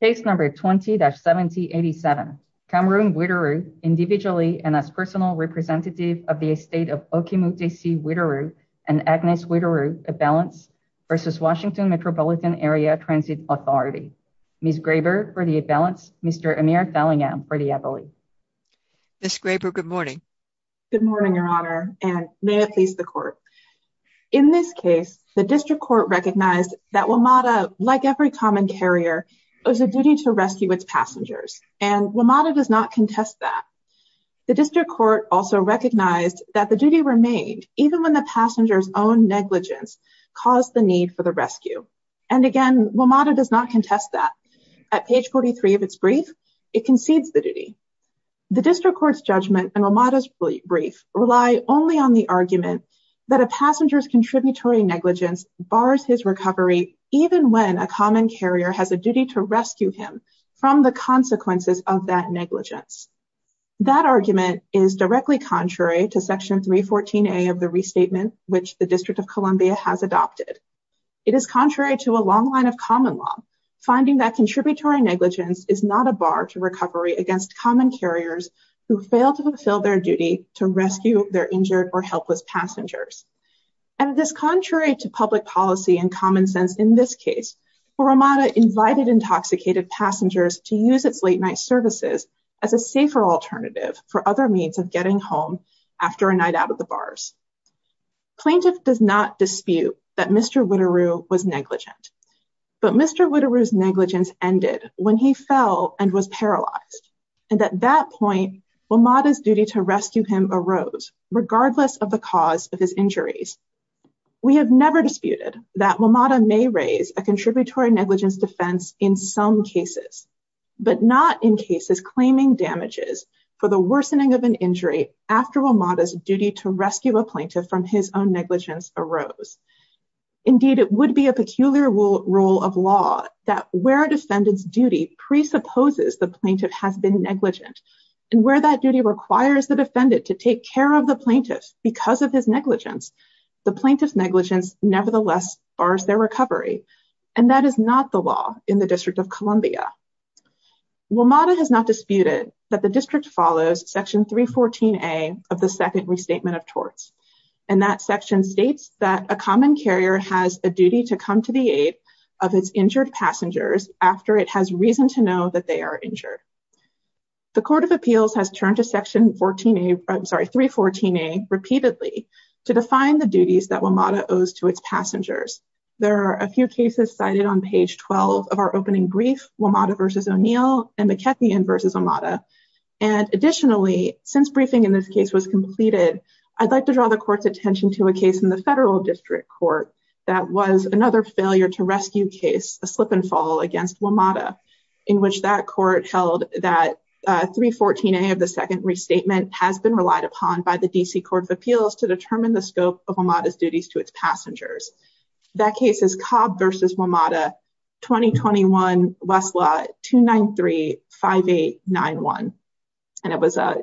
case number 20-7087 Cameroon Whiteru individually and as personal representative of the estate of Okemuk-D.C. Whiteru and Agnes Whiteru Avalance versus Washington Metropolitan Area Transit Authority. Ms. Graber for the Avalance, Mr. Amir Fallingham for the Avalanche. Ms. Graber, good morning. Good morning, your honor, and may it please the court. In this case, the district court recognized that WMATA, like every common carrier, owes a duty to rescue its passengers and WMATA does not contest that. The district court also recognized that the duty remained even when the passenger's own negligence caused the need for the rescue. And again, WMATA does not contest that. At page 43 of its brief, it concedes the duty. The district court's judgment and WMATA's brief rely only on the argument that a passenger's negligence bars his recovery even when a common carrier has a duty to rescue him from the consequences of that negligence. That argument is directly contrary to section 314a of the restatement which the District of Columbia has adopted. It is contrary to a long line of common law finding that contributory negligence is not a bar to recovery against common carriers who fail to fulfill their duty to rescue their injured or helpless passengers. And it is contrary to public policy and common sense in this case where WMATA invited intoxicated passengers to use its late night services as a safer alternative for other means of getting home after a night out of the bars. Plaintiff does not dispute that Mr. Witteroo was negligent, but Mr. Witteroo's negligence ended when he fell and was paralyzed. And at that point, WMATA's duty to rescue him arose regardless of the cause of his injuries. We have never disputed that WMATA may raise a contributory negligence defense in some cases, but not in cases claiming damages for the worsening of an injury after WMATA's duty to rescue a plaintiff from his own negligence arose. Indeed, it would be a peculiar rule of law that where a defendant's and where that duty requires the defendant to take care of the plaintiff because of his negligence, the plaintiff's negligence nevertheless bars their recovery. And that is not the law in the District of Columbia. WMATA has not disputed that the district follows section 314A of the second restatement of torts. And that section states that a common carrier has a duty to come to the aid of its injured passengers after it has reason to know that they are injured. The Court of Appeals has turned to section 314A repeatedly to define the duties that WMATA owes to its passengers. There are a few cases cited on page 12 of our opening brief, WMATA v. O'Neill and McKechnie v. WMATA. And additionally, since briefing in this case was completed, I'd like to draw the court's attention to a case in the federal district court that was another failure-to-rescue case, a slip-and-fall against WMATA, in which that court held that 314A of the second restatement has been relied upon by the D.C. Court of Appeals to determine the scope of WMATA's duties to its passengers. That case is Cobb v. WMATA, 2021 Westlaw 2935891. And it was from a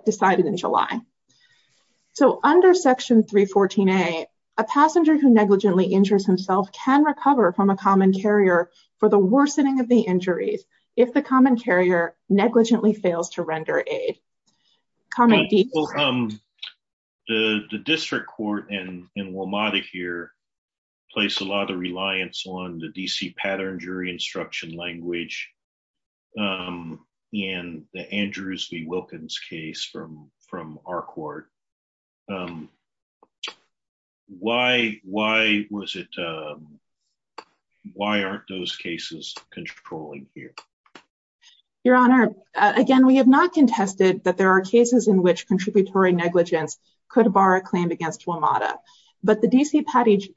common carrier for the worsening of the injuries if the common carrier negligently fails to render aid. Comment. The district court and WMATA here place a lot of reliance on the D.C. Pattern Jury Instruction Language and the Andrews v. Wilkins case from our court. Um, why, why was it, um, why aren't those cases controlling here? Your Honor, again, we have not contested that there are cases in which contributory negligence could bar a claim against WMATA, but the D.C.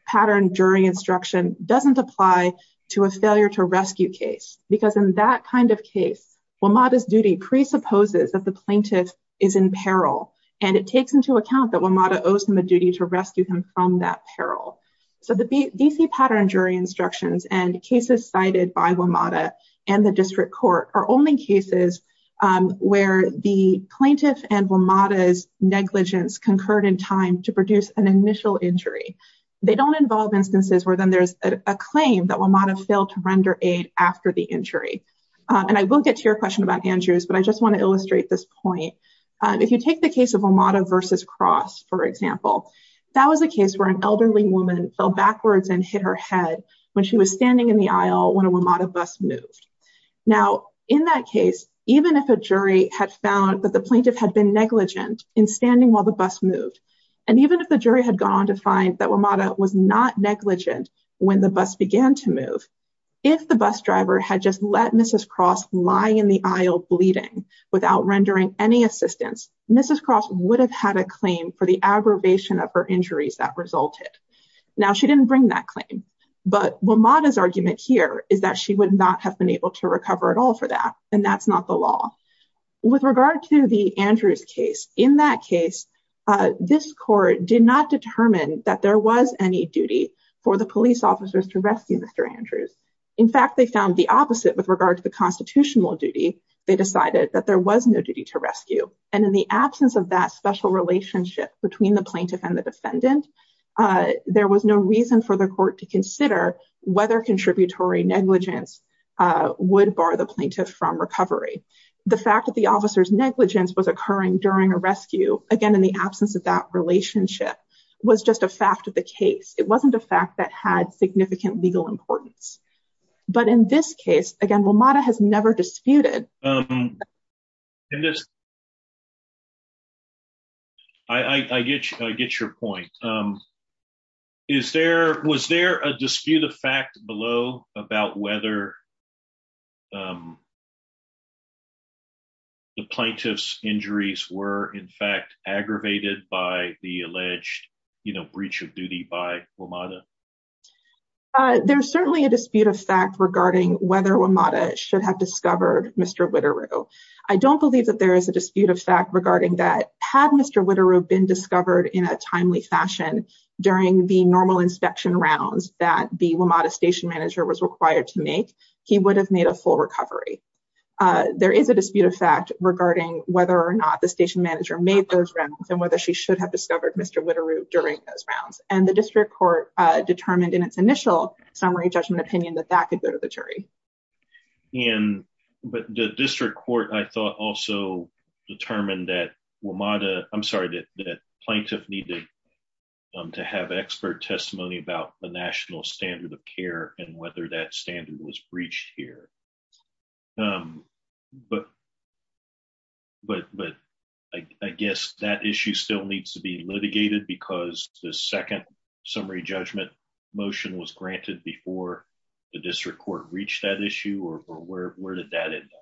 Pattern Jury Instruction doesn't apply to a failure-to-rescue case, because in that kind of case, WMATA's duty presupposes that the plaintiff is in peril, and it takes into account that WMATA owes him a duty to rescue him from that peril. So the D.C. Pattern Jury Instructions and cases cited by WMATA and the district court are only cases, um, where the plaintiff and WMATA's negligence concurred in time to produce an initial injury. They don't involve then there's a claim that WMATA failed to render aid after the injury. And I will get to your question about Andrews, but I just want to illustrate this point. If you take the case of WMATA v. Cross, for example, that was a case where an elderly woman fell backwards and hit her head when she was standing in the aisle when a WMATA bus moved. Now, in that case, even if a jury had found that the plaintiff had been negligent in standing while the bus moved, and even if the jury had gone on to find that WMATA was not negligent when the bus began to move, if the bus driver had just let Mrs. Cross lie in the aisle bleeding without rendering any assistance, Mrs. Cross would have had a claim for the aggravation of her injuries that resulted. Now, she didn't bring that claim, but WMATA's argument here is that she would not have been able to recover at all for that, and that's not the law. With regard to the Andrews case, in that case, this court did not determine that there was any duty for the police officers to rescue Mr. Andrews. In fact, they found the opposite with regard to the constitutional duty. They decided that there was no duty to rescue, and in the absence of that special relationship between the plaintiff and the defendant, there was no reason for the court to consider whether contributory negligence would bar the plaintiff from recovery. The fact that the officer's again, in the absence of that relationship, was just a fact of the case. It wasn't a fact that had significant legal importance, but in this case, again, WMATA has never disputed. I get your point. Was there a dispute of fact below about whether the plaintiff's injuries were, in fact, aggravated by the alleged breach of duty by WMATA? There's certainly a dispute of fact regarding whether WMATA should have discovered Mr. Witteroo. I don't believe that there is a dispute of fact regarding that. Had Mr. Witteroo been discovered in a timely fashion during the normal inspection rounds that the WMATA station manager was required to make, he would have made a full recovery. There is a dispute of fact regarding whether or not the station manager made those rounds and whether she should have discovered Mr. Witteroo during those rounds. The district court determined in its initial summary judgment opinion that that could go to the jury. The district court, I thought, also determined that plaintiff needed to have expert testimony about the national standard of care and whether that standard was breached here. I guess that issue still needs to be litigated because the second summary judgment motion was granted before the district court reached that issue or where did that end up?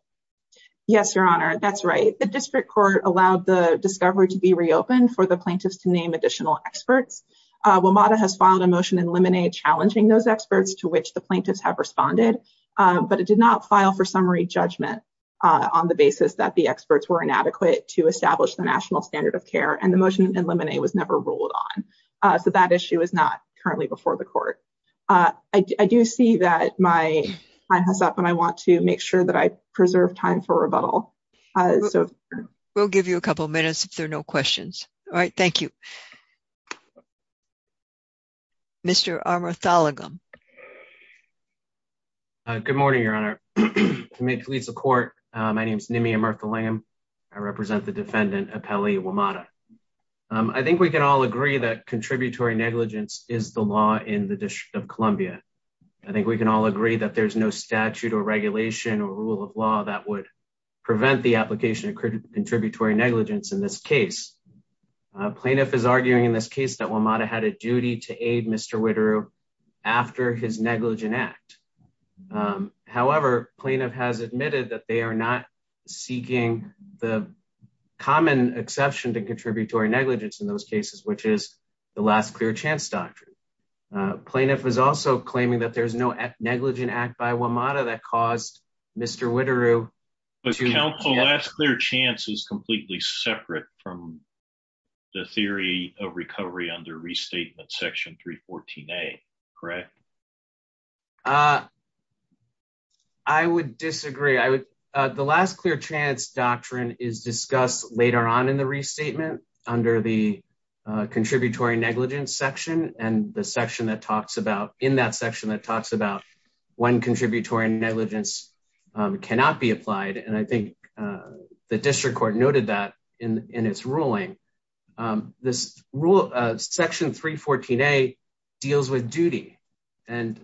Yes, Your Honor, that's right. The district court allowed the discovery to be reopened for the plaintiffs to name additional experts. WMATA has filed a motion in limine challenging those experts to which the plaintiffs have responded, but it did not file for summary judgment on the basis that the experts were inadequate to establish the national standard of care and the motion in limine was never ruled on. So, that issue is not currently before the preserve time for rebuttal. We'll give you a couple minutes if there are no questions. All right, thank you. Mr. Armarthalagam. Good morning, Your Honor. To make police a court, my name is Nimi Armarthalagam. I represent the defendant, Appeli WMATA. I think we can all agree that contributory negligence is the law in the District of Columbia. I think we can all agree that there's no statute or regulation or rule of law that would prevent the application of contributory negligence in this case. Plaintiff is arguing in this case that WMATA had a duty to aid Mr. Wideroo after his negligent act. However, plaintiff has admitted that they are not seeking the common exception to contributory negligence in those cases, which is the last clear chance doctrine. Plaintiff is also claiming that there's no negligent act by WMATA that caused Mr. Wideroo. But counsel, last clear chance is completely separate from the theory of recovery under restatement section 314a, correct? I would disagree. The last clear chance doctrine is discussed later on in the restatement under the contributory negligence section and the section that talks about in that section that talks about when contributory negligence cannot be applied. And I think the district court noted that in its ruling. Section 314a deals with duty. And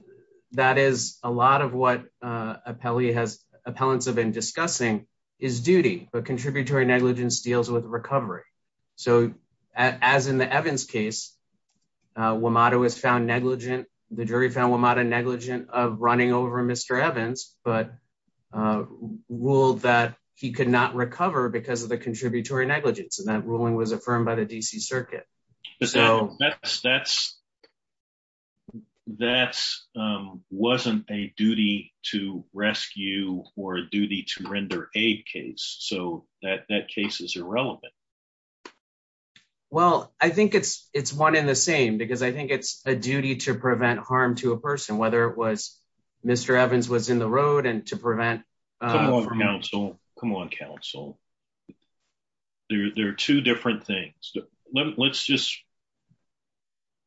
that is a lot of what appellants have been discussing is duty, but contributory negligence deals with recovery. So as in the Evans case, WMATA was found negligent. The jury found WMATA negligent of running over Mr. Evans, but ruled that he could not recover because of the contributory negligence. And that ruling was affirmed by the DC circuit. That wasn't a duty to rescue or a duty to render aid case. So that, that case is irrelevant. Well, I think it's, it's one in the same, because I think it's a duty to prevent harm to a person, whether it was Mr. Evans was in the road and to prevent counsel, come on council. There are two different things. Let's just,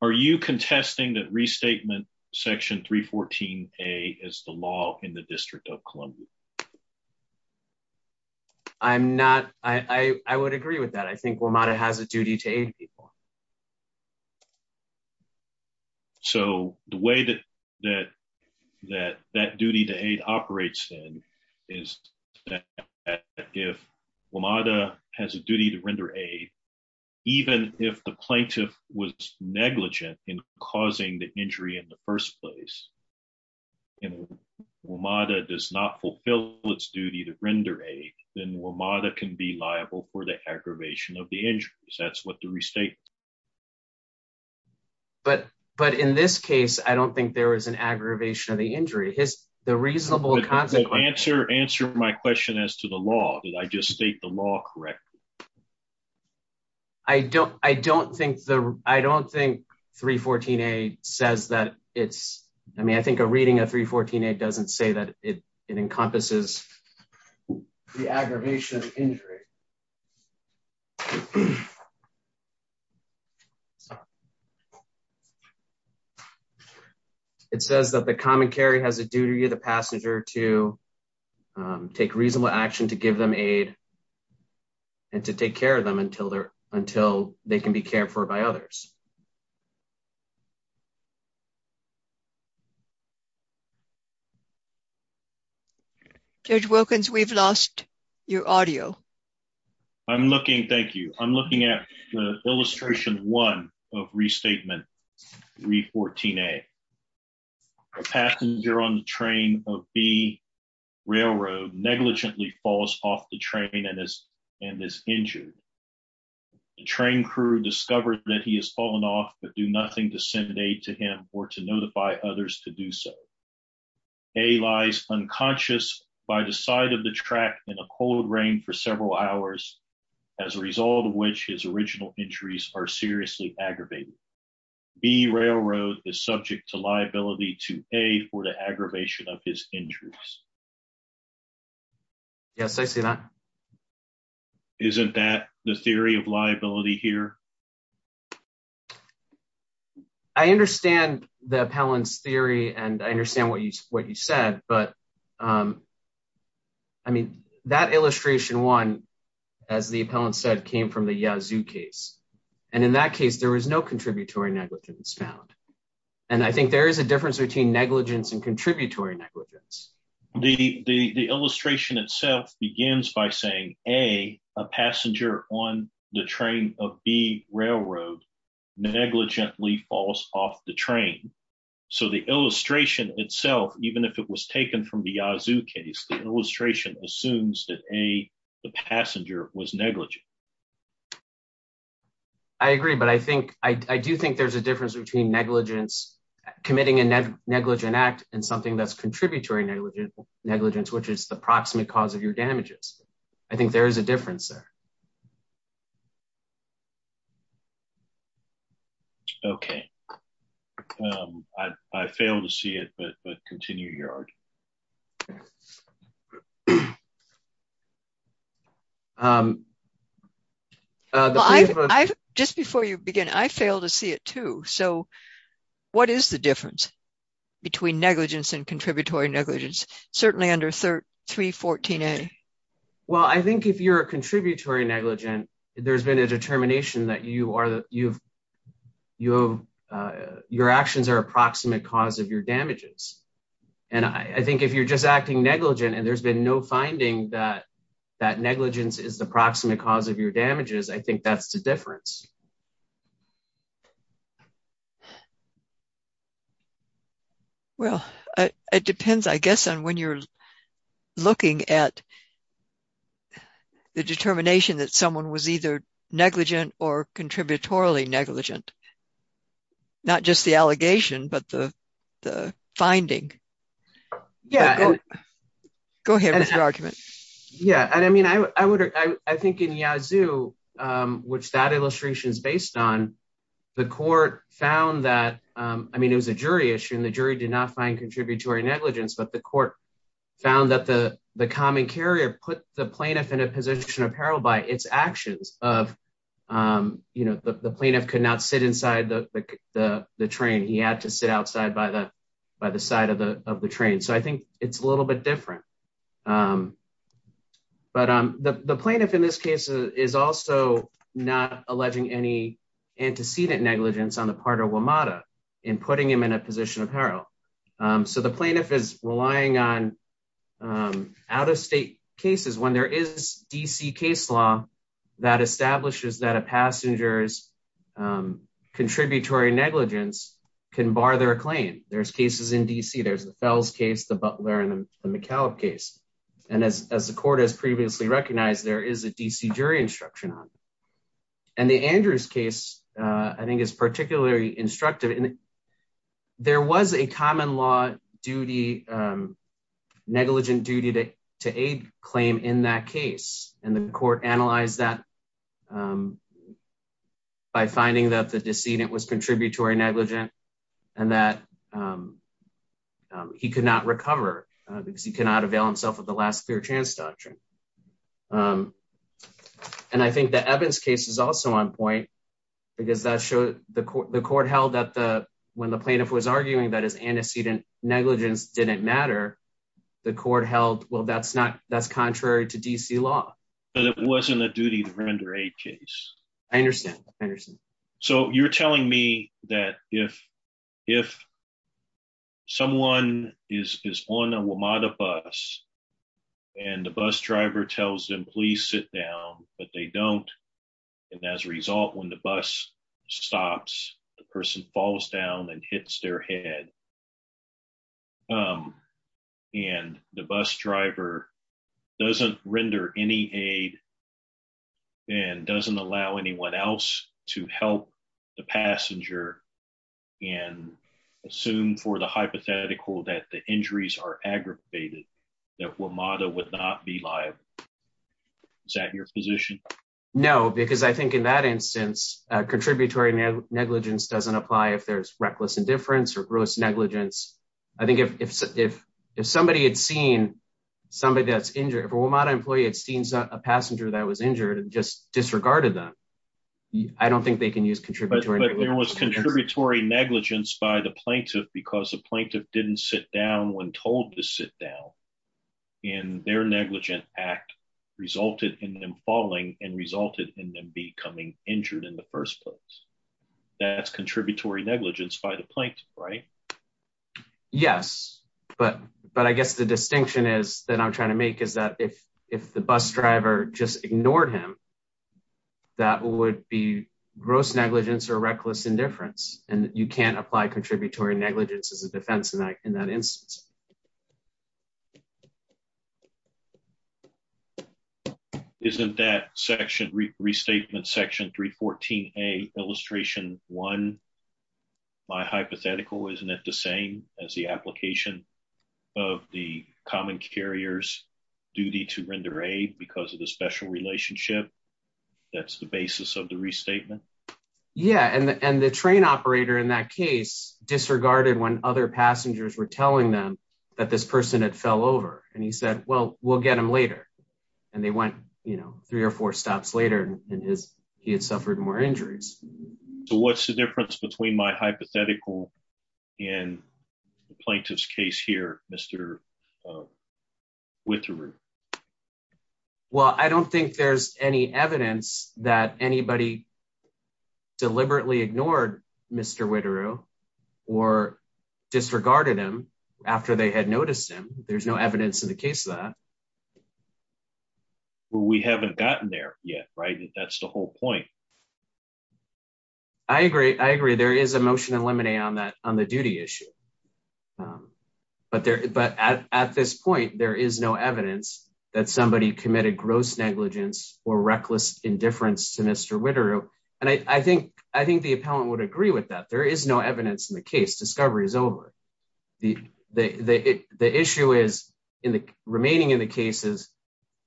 are you contesting that restatement section 314a is the law in the district of Columbia? I'm not, I would agree with that. I think WMATA has a duty to aid people. So the way that, that, that, that duty to aid operates then is if WMATA has a duty to render aid, even if the plaintiff was negligent in causing the injury in the first place, and WMATA does not fulfill its duty to render aid, then WMATA can be liable for the aggravation of the injuries. That's what the restatement. But, but in this case, I don't think there was an aggravation of the injury. His, the reasonable consequence. Answer my question as to the law. Did I just state the law correctly? I don't, I don't think the, I don't think 314a says that it's, I mean, I think a reading of 314a doesn't say that it encompasses the aggravation of injury. It says that the common carry has a duty of the passenger to take reasonable action to give them aid and to take care of them until they're, until they can be cared for by others. Judge Wilkins, we've lost your audio. I'm looking, thank you. I'm looking at the illustration one of restatement 314a. A passenger on the train of B railroad negligently falls off the train and is, and is injured. The train crew discovered that he has fallen off, but do nothing to send aid to him or to notify others to do so. A lies unconscious by the side of the track in a cold rain for several hours, as a result of which his original injuries are seriously aggravated. B railroad is subject to liability to aid for the aggravation of his injuries. Yes, I see that. Isn't that the theory of liability here? I understand the appellant's theory and I understand what you, what you said, but I mean, that illustration one, as the appellant said, came from the Yazoo case. And in that case, there was no contributory negligence found. And I think there is a difference between negligence and contributory negligence. The, the, the illustration itself begins by saying A, a passenger on the train of B railroad negligently falls off the train. So the illustration itself, even if it was taken from the Yazoo case, the illustration assumes that A, the passenger was negligent. I agree, but I think, I do think there's a difference between negligence, committing a negligent act and something that's contributory negligence, which is the proximate cause of your damages. I think there is a difference there. Okay. I failed to see it, but continue your argument. Okay. Just before you begin, I failed to see it too. So what is the difference between negligence and contributory negligence? Certainly under 314A. Well, I think if you're a contributory negligent, there's been a determination that you are, you've, you have, your actions are approximate cause of your damages. And I think if you're just acting negligent and there's been no finding that, that negligence is the proximate cause of your damages, I think that's the difference. Well, it depends, I guess, on when you're looking at the determination that someone was either negligent or contributory negligent. Not just the allegation, but the finding. Yeah. Go ahead with your argument. Yeah. And I mean, I would, I think in Yazoo, which that illustration is based on, the court found that, I mean, it was a jury issue and the jury did not find put the plaintiff in a position of peril by its actions of, you know, the plaintiff could not sit inside the train. He had to sit outside by the side of the train. So I think it's a little bit different. But the plaintiff in this case is also not alleging any antecedent negligence on the part of WMATA in putting him in a position of peril. So the plaintiff is relying on out-of-state cases when there is D.C. case law that establishes that a passenger's contributory negligence can bar their claim. There's cases in D.C. There's the Fells case, the Butler and the McAuliffe case. And as the court has previously recognized, there is a D.C. jury instruction on it. And the Andrews case, I think, is particularly instructive. There was a common law negligent duty to aid claim in that case. And the court analyzed that by finding that the decedent was contributory negligent and that he could not recover because he could not avail himself of the last clear chance doctrine. And I think the Evans case is also on point because the court held that when the plaintiff was arguing that his antecedent negligence didn't matter, the court held, well, that's contrary to D.C. law. But it wasn't a duty to render aid case. I understand. I understand. So you're telling me that if someone is on a WMATA bus and the bus driver tells them, sit down, but they don't. And as a result, when the bus stops, the person falls down and hits their head and the bus driver doesn't render any aid and doesn't allow anyone else to help the passenger and assume for the hypothetical that the injuries are aggravated, that WMATA would not be liable. Is that your position? No, because I think in that instance, contributory negligence doesn't apply if there's reckless indifference or gross negligence. I think if somebody had seen somebody that's injured, if a WMATA employee had seen a passenger that was injured and just disregarded them, I don't think they can use contributory negligence. But there was contributory negligence by the plaintiff because the plaintiff didn't sit down told to sit down and their negligent act resulted in them falling and resulted in them becoming injured in the first place. That's contributory negligence by the plaintiff, right? Yes. But I guess the distinction is that I'm trying to make is that if the bus driver just ignored him, that would be gross negligence or reckless indifference. And you can't apply contributory negligence as a defense in that instance. Isn't that section restatement section 314A illustration one, my hypothetical, isn't it the same as the application of the common carrier's duty to render aid because of the special relationship? That's the basis of the restatement? Yeah. And the train operator in that case disregarded when other passengers were telling them that this person had fell over and he said, well, we'll get him later. And they went, you know, three or four stops later in his, he had suffered more injuries. So what's the difference between my hypothetical and the plaintiff's case here, Mr. Witterer? Well, I don't think there's any evidence that anybody deliberately ignored Mr. Witterer or disregarded him after they had noticed him. There's no evidence in the case of that. Well, we haven't gotten there yet, right? That's the whole point. I agree. I agree. There is a motion to eliminate on that, on the duty issue. But there, but at, at this point, there is no evidence that somebody committed gross negligence or reckless indifference to Mr. Witterer. And I think, I think the appellant would agree with that. There is no evidence in the case. Discovery is over. The, the, the issue is in the remaining in the cases,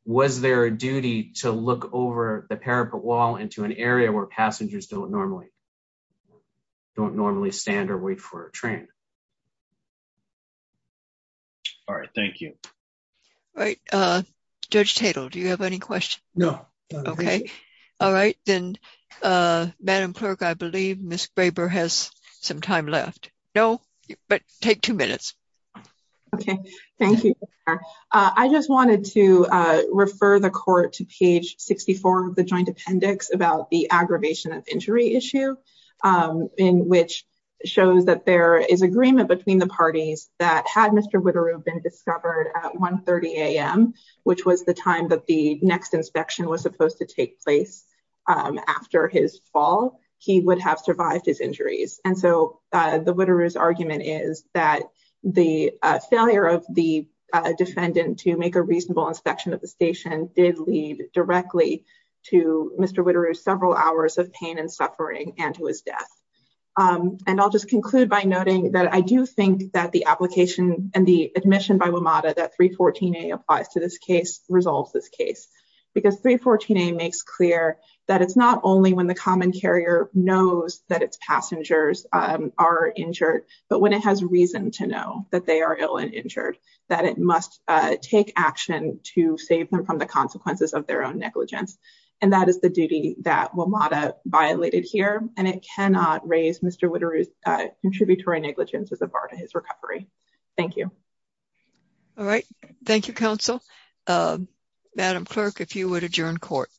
was there a duty to look over the parapet wall into an area where passengers don't normally, don't normally stand or wait for a train? All right. Thank you. All right. Judge Tatel, do you have any questions? No. Okay. All right. Then Madam Clerk, I believe Ms. Graber has some time left. No, but take two minutes. Okay. Thank you. I just wanted to refer the court to page 64 of the joint appendix about the aggravation of injury issue, in which shows that there is agreement between the parties that had Mr. Witterer been discovered at 1.30 AM, which was the time that the next inspection was supposed to take place after his fall, he would have survived his injuries. And so the Witterer's argument is that the failure of the defendant to make a reasonable inspection of the station did lead directly to Mr. Witterer's several hours of pain and suffering and to his death. And I'll just conclude by noting that I do think that the application and the admission by WMATA that 314A applies to this case resolves this case. Because 314A makes clear that it's not only when the common carrier knows that its passengers are injured, but when it has reason to know that they are ill and injured, that it must take action to save them from the consequences of their own negligence. And that is the duty that WMATA violated here. And it cannot raise Mr. Witterer's contributory negligence as a bar to his recovery. Thank you. All right. Thank you, counsel. Madam Clerk, if you would adjourn court.